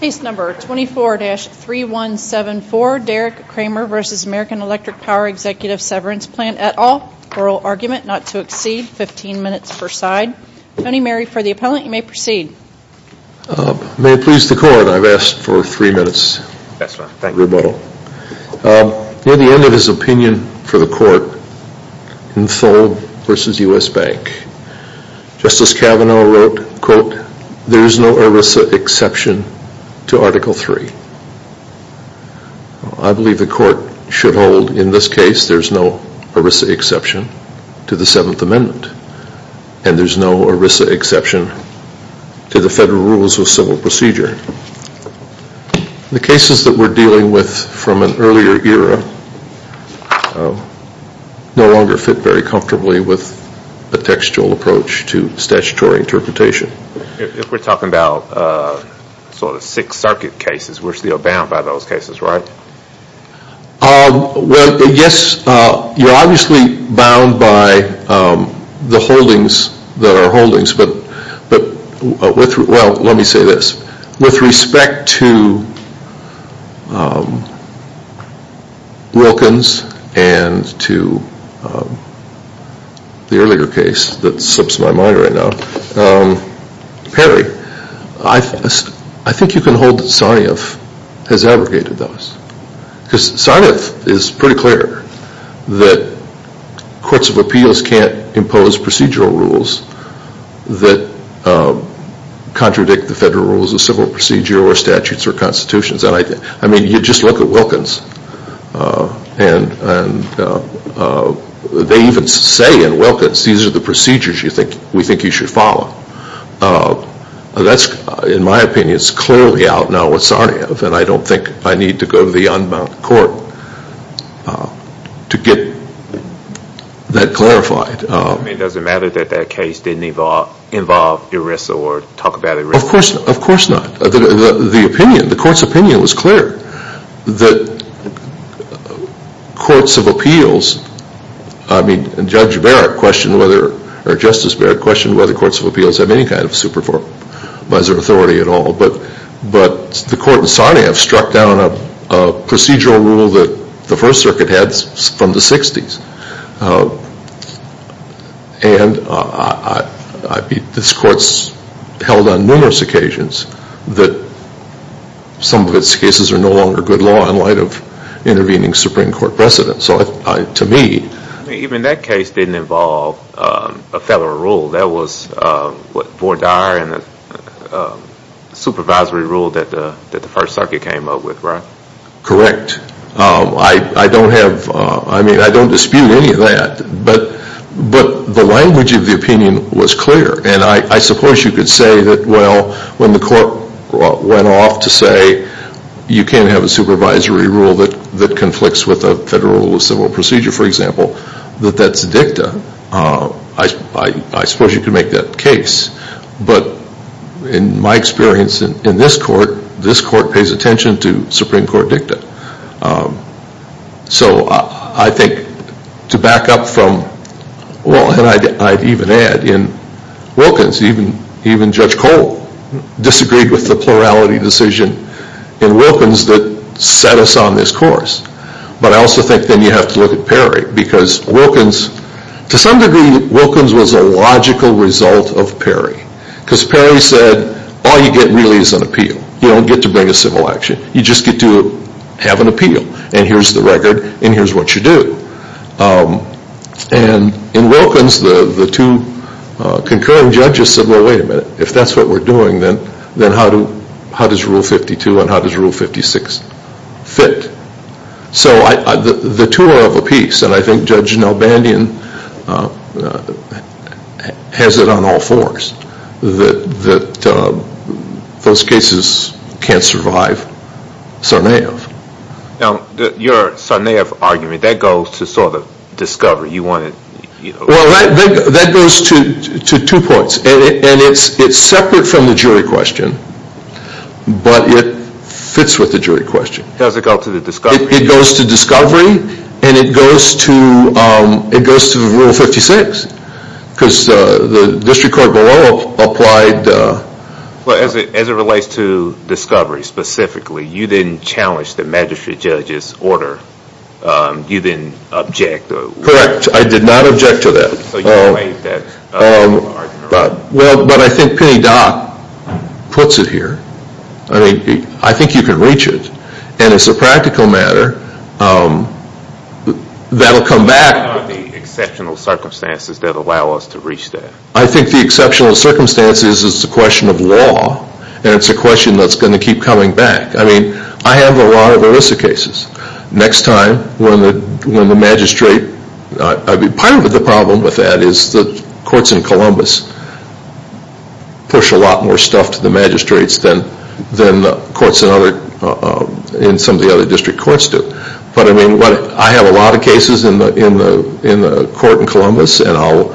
Case number 24-3174, Derek Kramer v. American Electric Power Executive Severance Plan et al., oral argument not to exceed 15 minutes per side. Tony Mary for the appellant, you may proceed. May it please the court, I've asked for three minutes. Yes ma'am, thank you. Rebuttal. Near the end of his opinion for the court in Thole v. U.S. Bank, Justice Kavanaugh wrote, quote, there is no ERISA exception to Article III. I believe the court should hold in this case there's no ERISA exception to the 7th Amendment, and there's no ERISA exception to the Federal Rules of Civil Procedure. The cases that we're dealing with from an earlier era no longer fit very comfortably with a textual approach to statutory interpretation. If we're talking about sort of Sixth Circuit cases, we're still bound by those cases, right? Well, yes, you're obviously bound by the holdings that are holdings, but with, well, let me say this. With respect to Wilkins and to the earlier case that slips my mind right now, Perry, I think you can hold that Sarniff has abrogated those. Because Sarniff is pretty clear that courts of appeals can't impose procedural rules that contradict the Federal Rules of Civil Procedure or statutes or constitutions. And I mean, you just look at Wilkins, and they even say in Wilkins, these are the procedures we think you should follow. That's, in my opinion, is clearly out now with Sarniff, and I don't think I need to go to the unbound court to get that clarified. I mean, does it matter that that case didn't involve ERISA or talk about ERISA? Of course not. The opinion, the court's opinion was clear that courts of appeals, I mean, Judge Barrett questioned whether, or Justice Barrett questioned whether courts of appeals have any kind of supervisory authority at all. But the court in Sarniff struck down a procedural rule that the First Circuit had from the 60s. And this court's held on numerous occasions that some of its cases are no longer good law in light of intervening Supreme Court precedents. So to me. Even that case didn't involve a Federal Rule. That was what, board dire and a supervisory rule that the First Circuit came up with, right? Correct. I don't have, I mean, I don't dispute any of that. But the language of the opinion was clear. And I suppose you could say that, well, when the court went off to say, you can't have a supervisory rule that conflicts with a Federal Rule of Civil Procedure, for example, that that's dicta. I suppose you could make that case. But in my experience in this court, this court pays attention to Supreme Court dicta. So I think to back up from, well, and I'd even add in Wilkins, even Judge Cole disagreed with the plurality decision in Wilkins that set us on this course. But I also think then you have to look at Perry, because Wilkins, to some degree Wilkins was a logical result of Perry. Because Perry said, all you get really is an appeal. You don't get to bring a civil action. You just get to have an appeal. And here's the record, and here's what you do. And in Wilkins, the two concurring judges said, well, wait a minute. If that's what we're doing, then how does Rule 52 and how does Rule 56 fit? So the two are of a piece. And I think Judge Nelbandian has it on all fours that those cases can't survive Sarnaeff. Now, your Sarnaeff argument, that goes to sort of discovery. You want to, you know. Well, that goes to two points. And it's separate from the jury question, but it fits with the jury question. How does it go to the discovery? It goes to discovery, and it goes to Rule 56, because the district court below applied. Well, as it relates to discovery specifically, you didn't challenge the magistrate judge's order. You didn't object. Correct. I did not object to that. So you delayed that argument. Well, but I think Penny Dock puts it here. I mean, I think you can reach it. And as a practical matter, that'll come back. With the exceptional circumstances that allow us to reach that. I think the exceptional circumstances is a question of law, and it's a question that's going to keep coming back. I mean, I have a lot of ERISA cases. Next time, when the magistrate, I mean, part of the problem with that is the courts in Columbus push a lot more stuff to the magistrates than the courts in some of the other district courts do. But I mean, I have a lot of cases in the court in Columbus, and I'll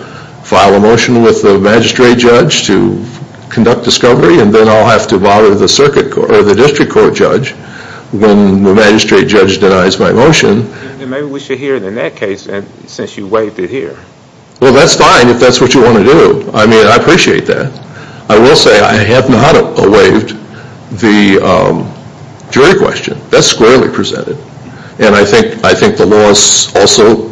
file a motion with the magistrate judge to conduct discovery, and then I'll have to bother the district court judge when the magistrate judge denies my motion. And maybe we should hear it in that case, since you waived it here. Well, that's fine if that's what you want to do. I mean, I appreciate that. I will say I have not waived the jury question. That's squarely presented. And I think the law is also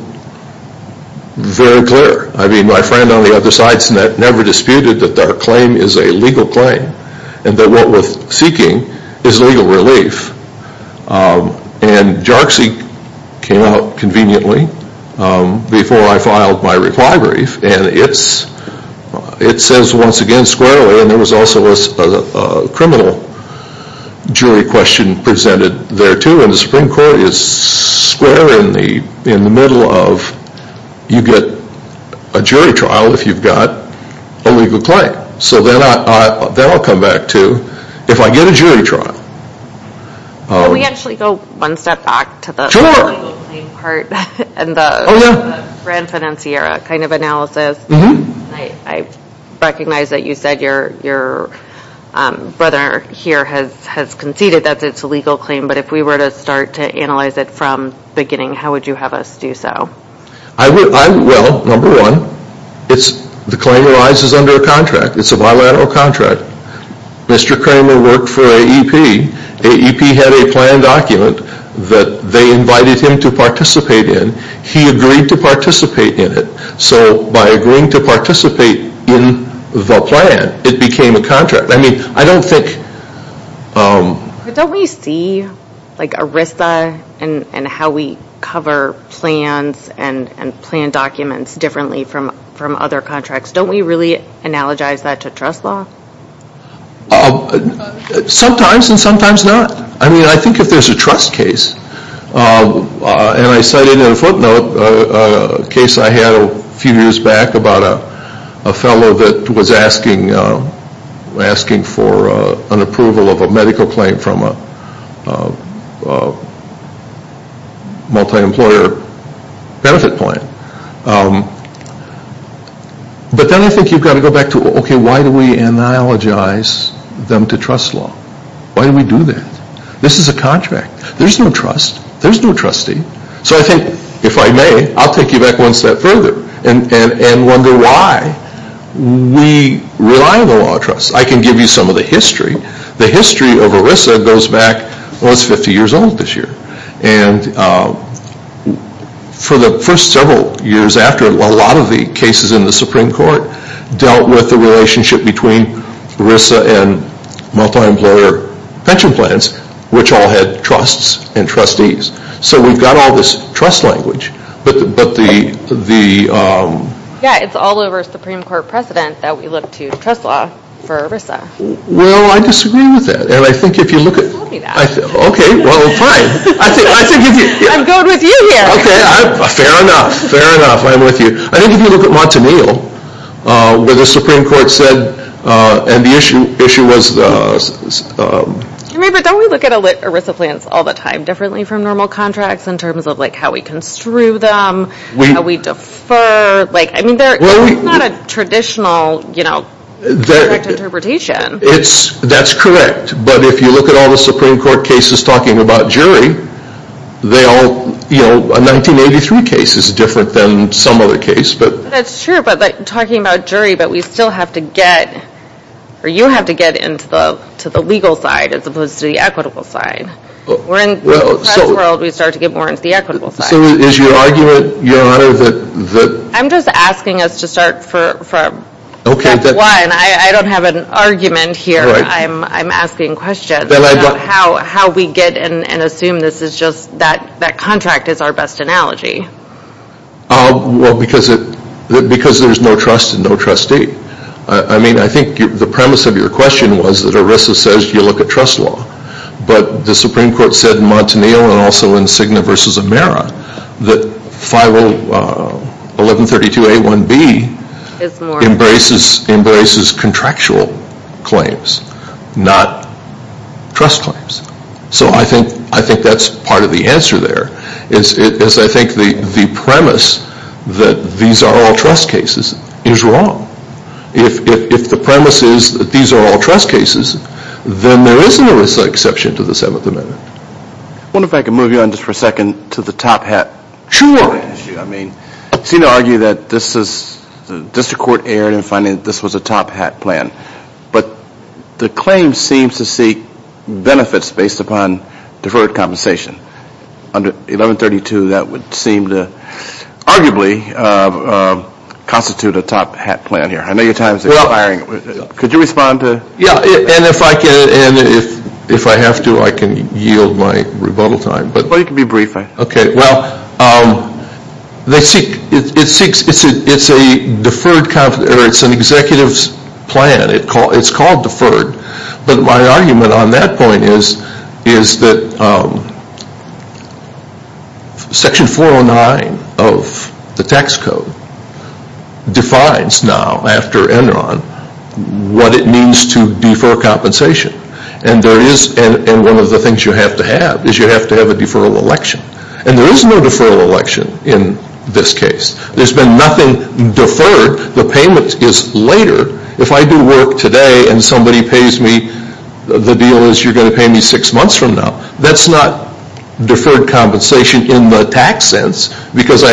very clear. I mean, my friend on the other side has never disputed that our claim is a legal claim, and that what we're seeking is legal relief. And JARCSI came out conveniently before I filed my reply brief, and it says once again squarely, and there was also a criminal jury question presented there, too. And the Supreme Court is square in the middle of you get a jury trial if you've got a legal claim. So then I'll come back to if I get a jury trial. Can we actually go one step back to the legal claim part and the grand financier kind of analysis? I recognize that you said your brother here has conceded that it's a legal claim, but if we were to start to analyze it from the beginning, how would you have us do so? Well, number one, the claim arises under a contract. It's a bilateral contract. Mr. Kramer worked for AEP. AEP had a plan document that they invited him to participate in. He agreed to participate in it. So by agreeing to participate in the plan, it became a contract. I mean, I don't think... But don't we see like ERISA and how we cover plans and plan documents differently from other contracts? Don't we really analogize that to trust law? Sometimes and sometimes not. I mean, I think if there's a trust case, and I cited in a footnote a case I had a few years back about a fellow that was asking for an approval of a medical claim from a multi-employer benefit plan. But then I think you've got to go back to, okay, why do we analogize them to trust law? Why do we do that? This is a contract. There's no trust. There's no trustee. So I think, if I may, I'll take you back one step further. And wonder why we rely on the law of trust. I can give you some of the history. The history of ERISA goes back, well, it's 50 years old this year. And for the first several years after, a lot of the cases in the Supreme Court dealt with the relationship between ERISA and multi-employer pension plans, which all had trusts and trustees. So we've got all this trust language. But the. Yeah, it's all over Supreme Court precedent that we look to trust law for ERISA. Well, I disagree with that. And I think if you look at. Don't tell me that. Okay, well, fine. I'm going with you here. Okay. Fair enough. Fair enough. I'm with you. I think if you look at Montanil, where the Supreme Court said, and the issue was. I mean, but don't we look at ERISA plans all the time differently from normal contracts in terms of like how we construe them, how we defer, like, I mean, it's not a traditional, you know, direct interpretation. That's correct. But if you look at all the Supreme Court cases talking about jury, they all, you know, a 1983 case is different than some other case. That's true. But talking about jury, but we still have to get, or you have to get into the legal side as opposed to the equitable side. We're in the press world, we start to get more into the equitable side. So is your argument, Your Honor, that. I'm just asking us to start from. Okay. That's one. I don't have an argument here. Right. I'm asking questions. Then I've got. How we get and assume this is just that contract is our best analogy. Well, because there's no trust and no trustee. I mean, I think the premise of your question was that ERISA says you look at trust law. But the Supreme Court said in Montaneo and also in Cigna versus Amera that FIRO 1132A1B embraces contractual claims, not trust claims. So I think that's part of the answer there. Is I think the premise that these are all trust cases is wrong. If the premise is that these are all trust cases, then there is no exception to the Seventh Amendment. I wonder if I could move you on just for a second to the top hat issue. I mean, I've seen you argue that this is, the district court erred in finding that this was a top hat plan. But the claim seems to seek benefits based upon deferred compensation. Under 1132, that would seem to arguably constitute a top hat plan here. I know your time is expiring. Could you respond to? Yeah. And if I have to, I can yield my rebuttal time. Well, you can be brief. Okay. Well, it's a deferred, it's an executive's plan. It's called deferred. But my argument on that point is that Section 409 of the tax code defines now after Enron what it means to defer compensation. And there is, and one of the things you have to have is you have to have a deferral election. And there is no deferral election in this case. There's been nothing deferred. The payment is later. If I do work today and somebody pays me, the deal is you're going to pay me six months from now. That's not deferred compensation in the tax sense because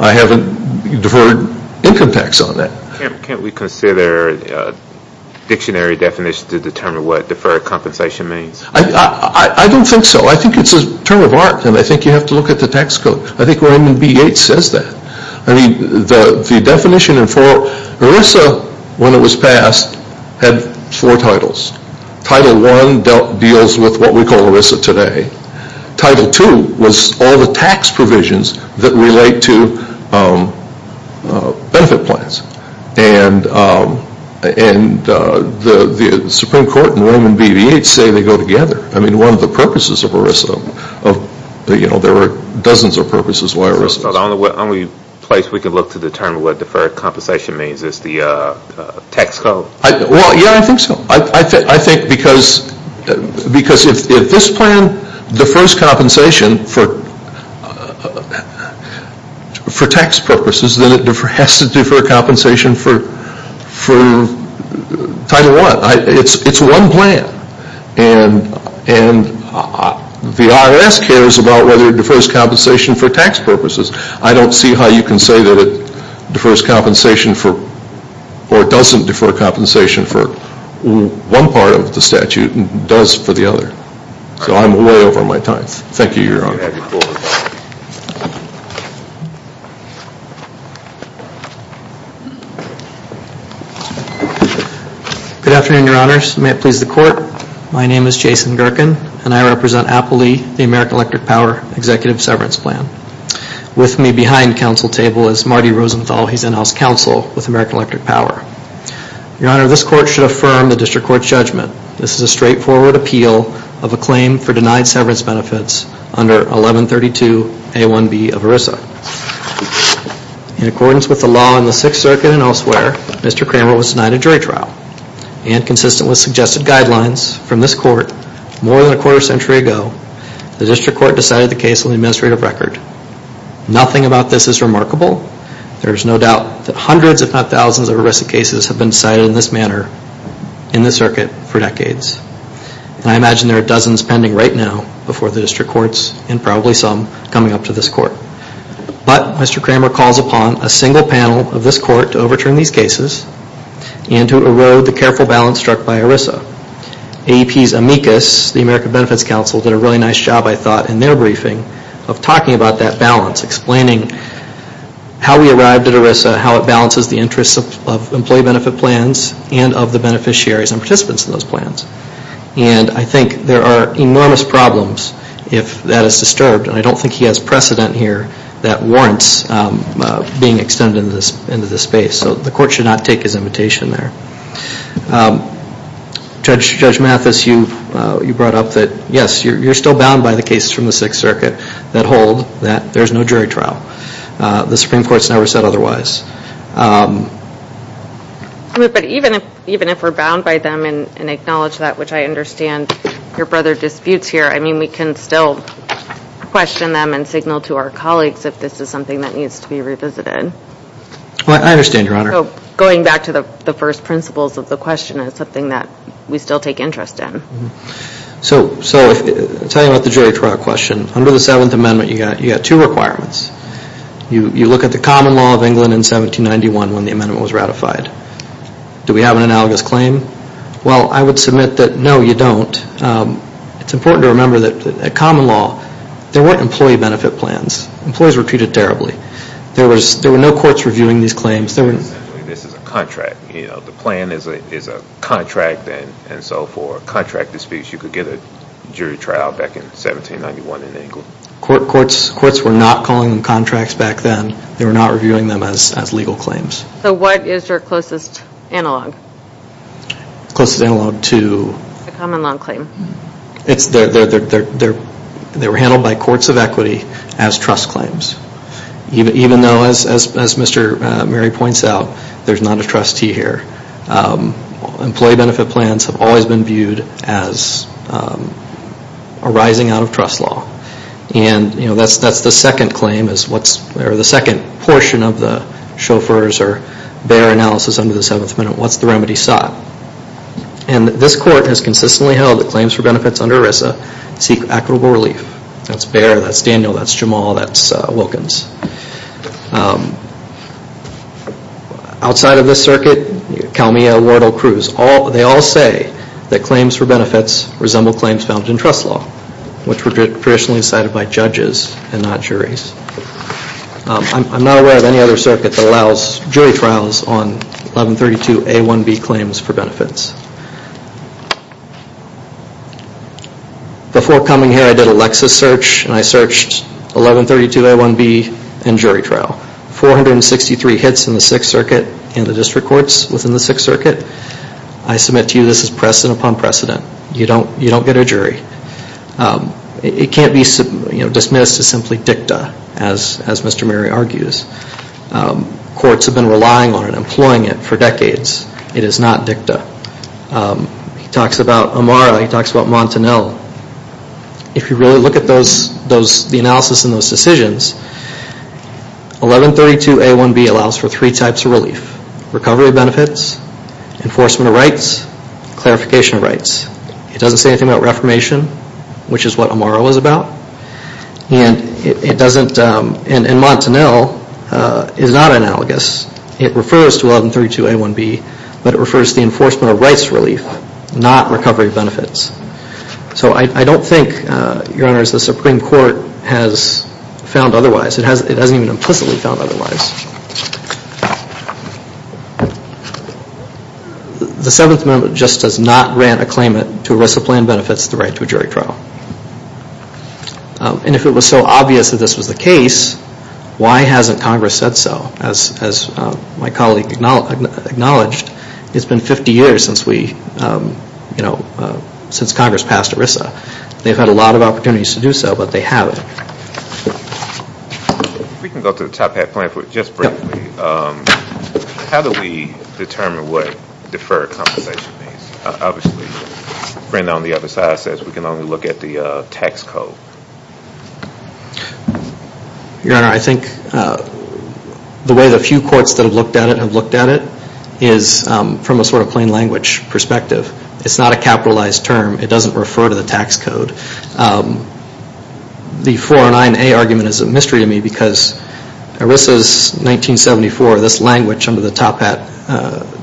I haven't deferred income tax on that. Can't we consider a dictionary definition to determine what deferred compensation means? I don't think so. I think it's a turn of art. And I think you have to look at the tax code. I think where even B8 says that. I mean, the definition in four, ERISA, when it was passed, had four titles. Title I deals with what we call ERISA today. Title II was all the tax provisions that relate to benefit plans. And the Supreme Court and Roman B8 say they go together. I mean, one of the purposes of ERISA, you know, there were dozens of purposes why ERISA. So the only place we can look to determine what deferred compensation means is the tax code? Well, yeah, I think so. I think because if this plan defers compensation for tax purposes, then it has to defer compensation for Title I. It's one plan. And the IRS cares about whether it defers compensation for tax purposes. I don't see how you can say that it defers compensation for or doesn't defer compensation for one part of the statute and does for the other. So I'm way over my time. Thank you, Your Honor. Good afternoon, Your Honors. May it please the Court. My name is Jason Gerken, and I represent Appalee, the American Electric Power Executive Severance Plan. With me behind council table is Marty Rosenthal. He's in-house counsel with American Electric Power. Your Honor, this Court should affirm the District Court's judgment. This is a straightforward appeal of a claim for denied severance benefits under 1132A1B of ERISA. In accordance with the law in the Sixth Circuit and elsewhere, Mr. Cramer was denied a jury trial. And consistent with suggested guidelines from this Court more than a quarter century ago, the District Court decided the case on the administrative record. Nothing about this is remarkable. There is no doubt that hundreds if not thousands of ERISA cases have been decided in this manner in this circuit for decades. And I imagine there are dozens pending right now before the District Courts and probably some coming up to this Court. But Mr. Cramer calls upon a single panel of this Court to overturn these cases and to erode the careful balance struck by ERISA. AEP's amicus, the American Benefits Council, did a really nice job, I thought, in their briefing of talking about that balance, explaining how we arrived at ERISA, how it balances the interests of employee benefit plans and of the beneficiaries and participants in those plans. And I think there are enormous problems if that is disturbed. And I don't think he has precedent here that warrants being extended into this space. So the Court should not take his invitation there. Judge Mathis, you brought up that, yes, you're still bound by the cases from the Sixth Circuit that hold that there's no jury trial. The Supreme Court's never said otherwise. But even if we're bound by them and acknowledge that, which I understand your brother disputes here, I mean, we can still question them and signal to our colleagues if this is something that needs to be revisited. I understand, Your Honor. So going back to the first principles of the question is something that we still take interest in. So I'll tell you about the jury trial question. Under the Seventh Amendment, you've got two requirements. You look at the common law of England in 1791 when the amendment was ratified. Do we have an analogous claim? Well, I would submit that, no, you don't. It's important to remember that common law, there weren't employee benefit plans. Employees were treated terribly. There were no courts reviewing these claims. This is a contract. The plan is a contract, and so for a contract to speak, you could get a jury trial back in 1791 in England. Courts were not calling them contracts back then. They were not reviewing them as legal claims. So what is your closest analog? Closest analog to? The common law claim. They were handled by courts of equity as trust claims. Even though, as Mr. Murray points out, there's not a trustee here. Employee benefit plans have always been viewed as arising out of trust law. And that's the second claim, or the second portion of the chauffeur's or bear analysis under the Seventh Amendment. What's the remedy sought? And this court has consistently held that claims for benefits under ERISA seek equitable relief. That's Bear, that's Daniel, that's Jamal, that's Wilkins. Outside of this circuit, Calmia, Wardle, Cruz, they all say that claims for benefits resemble claims found in trust law, which were traditionally decided by judges and not juries. I'm not aware of any other circuit that allows jury trials on 1132A1B claims for benefits. Before coming here, I did a Lexis search and I searched 1132A1B and jury trial. 463 hits in the Sixth Circuit and the district courts within the Sixth Circuit. I submit to you this is precedent upon precedent. You don't get a jury. It can't be dismissed as simply dicta, as Mr. Murray argues. Courts have been relying on it, employing it for decades. It is not dicta. He talks about Amara, he talks about Montanel. If you really look at the analysis and those decisions, 1132A1B allows for three types of relief. Recovery benefits, enforcement of rights, clarification of rights. It doesn't say anything about reformation, which is what Amara was about. And it doesn't, and Montanel is not analogous. It refers to 1132A1B, but it refers to the enforcement of rights relief, not recovery benefits. So I don't think, Your Honors, the Supreme Court has found otherwise. It hasn't even implicitly found otherwise. The Seventh Amendment just does not grant a claimant to ERISA plan benefits the right to a jury trial. And if it was so obvious that this was the case, why hasn't Congress said so? As my colleague acknowledged, it's been 50 years since Congress passed ERISA. They've had a lot of opportunities to do so, but they haven't. If we can go to the Top Hat plan for just briefly, how do we determine what deferred compensation means? Obviously, Brenda on the other side says we can only look at the tax code. Your Honor, I think the way the few courts that have looked at it have looked at it is from a sort of plain language perspective. It's not a capitalized term. It doesn't refer to the tax code. The 409A argument is a mystery to me because ERISA's 1974, this language under the Top Hat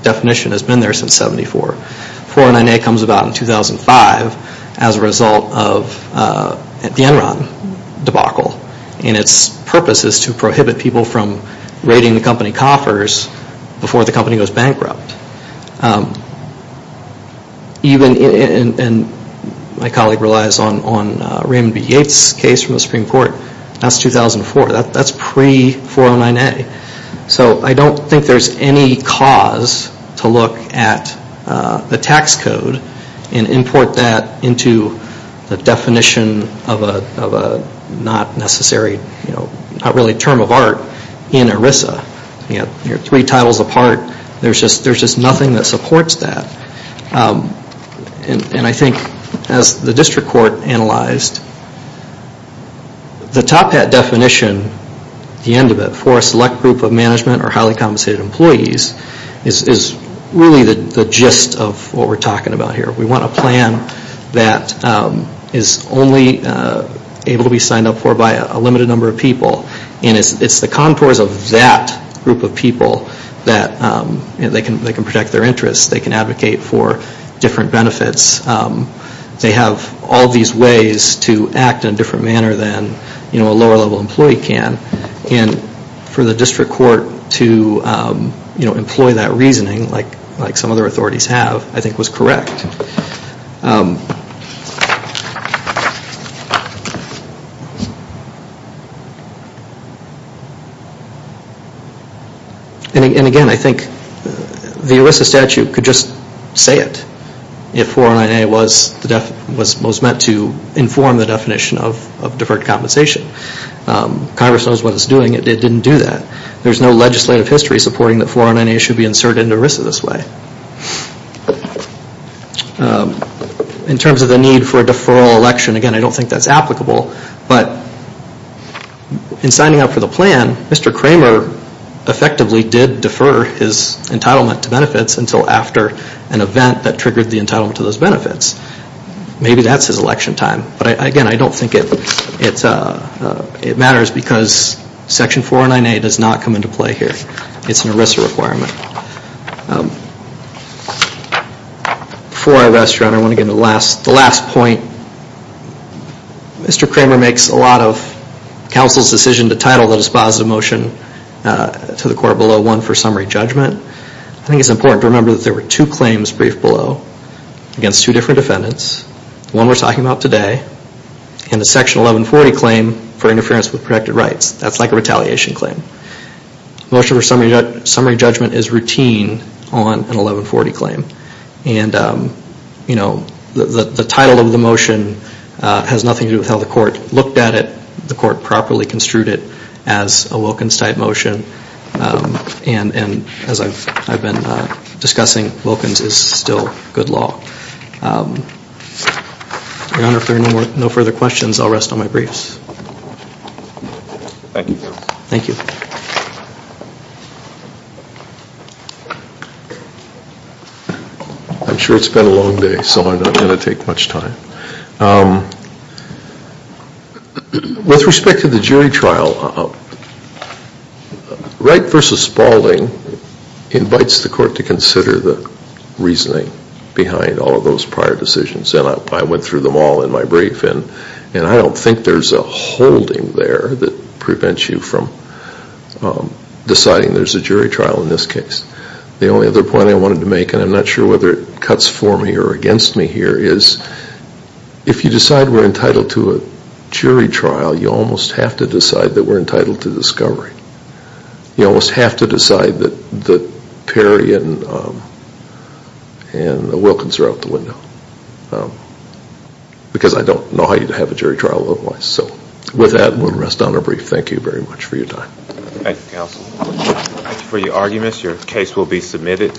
definition has been there since 74. 409A comes about in 2005 as a result of the Enron debacle. And its purpose is to prohibit people from raiding the company coffers before the company goes bankrupt. My colleague relies on Raymond B. Yates' case from the Supreme Court. That's 2004. That's pre-409A. So I don't think there's any cause to look at the tax code and import that into the definition of a not necessary term of art in ERISA. Three titles apart, there's just nothing that supports that. And I think as the district court analyzed, the Top Hat definition, the end of it, for a select group of management or highly compensated employees is really the gist of what we're talking about here. We want a plan that is only able to be signed up for by a limited number of people. And it's the contours of that group of people that they can protect their interests. They can advocate for different benefits. They have all these ways to act in a different manner than a lower level employee can. And for the district court to employ that reasoning, like some other authorities have, I think was correct. And again, I think the ERISA statute could just say it if 409A was most meant to inform the definition of deferred compensation. Congress knows what it's doing. It didn't do that. There's no legislative history supporting that 409A should be inserted into ERISA this way. In terms of the need for a deferral election, again, I don't think that's applicable. But in signing up for the plan, Mr. Kramer effectively did defer his entitlement to benefits until after an event that triggered the entitlement to those benefits. Maybe that's his election time. But again, I don't think it matters because Section 409A does not come into play here. It's an ERISA requirement. Before I wrestle around, I want to get to the last point. Mr. Kramer makes a lot of counsel's decision to title the dispositive motion to the court below one for summary judgment. I think it's important to remember that there were two claims briefed below against two different defendants. One we're talking about today and the Section 1140 claim for interference with protected rights. That's like a retaliation claim. Motion for summary judgment is routine on an 1140 claim. And the title of the motion has nothing to do with how the court looked at it. The court properly construed it as a Wilkins type motion. And as I've been discussing, Wilkins is still good law. Your Honor, if there are no further questions, I'll rest on my briefs. Thank you. Thank you. I'm sure it's been a long day, so I'm not going to take much time. With respect to the jury trial, Wright v. Spaulding invites the court to consider the reasoning behind all of those prior decisions. And I went through them all in my brief. And I don't think there's a holding there that prevents you from deciding there's a jury trial in this case. The only other point I wanted to make, and I'm not sure whether it cuts for me or against me here, is if you decide we're entitled to a jury trial, you almost have to decide that we're entitled to discovery. You almost have to decide that Perry and Wilkins are out the window. Because I don't know how you'd have a jury trial otherwise. So with that, we'll rest on our brief. Thank you very much for your time. Thank you, counsel. Thank you for your arguments. Your case will be submitted.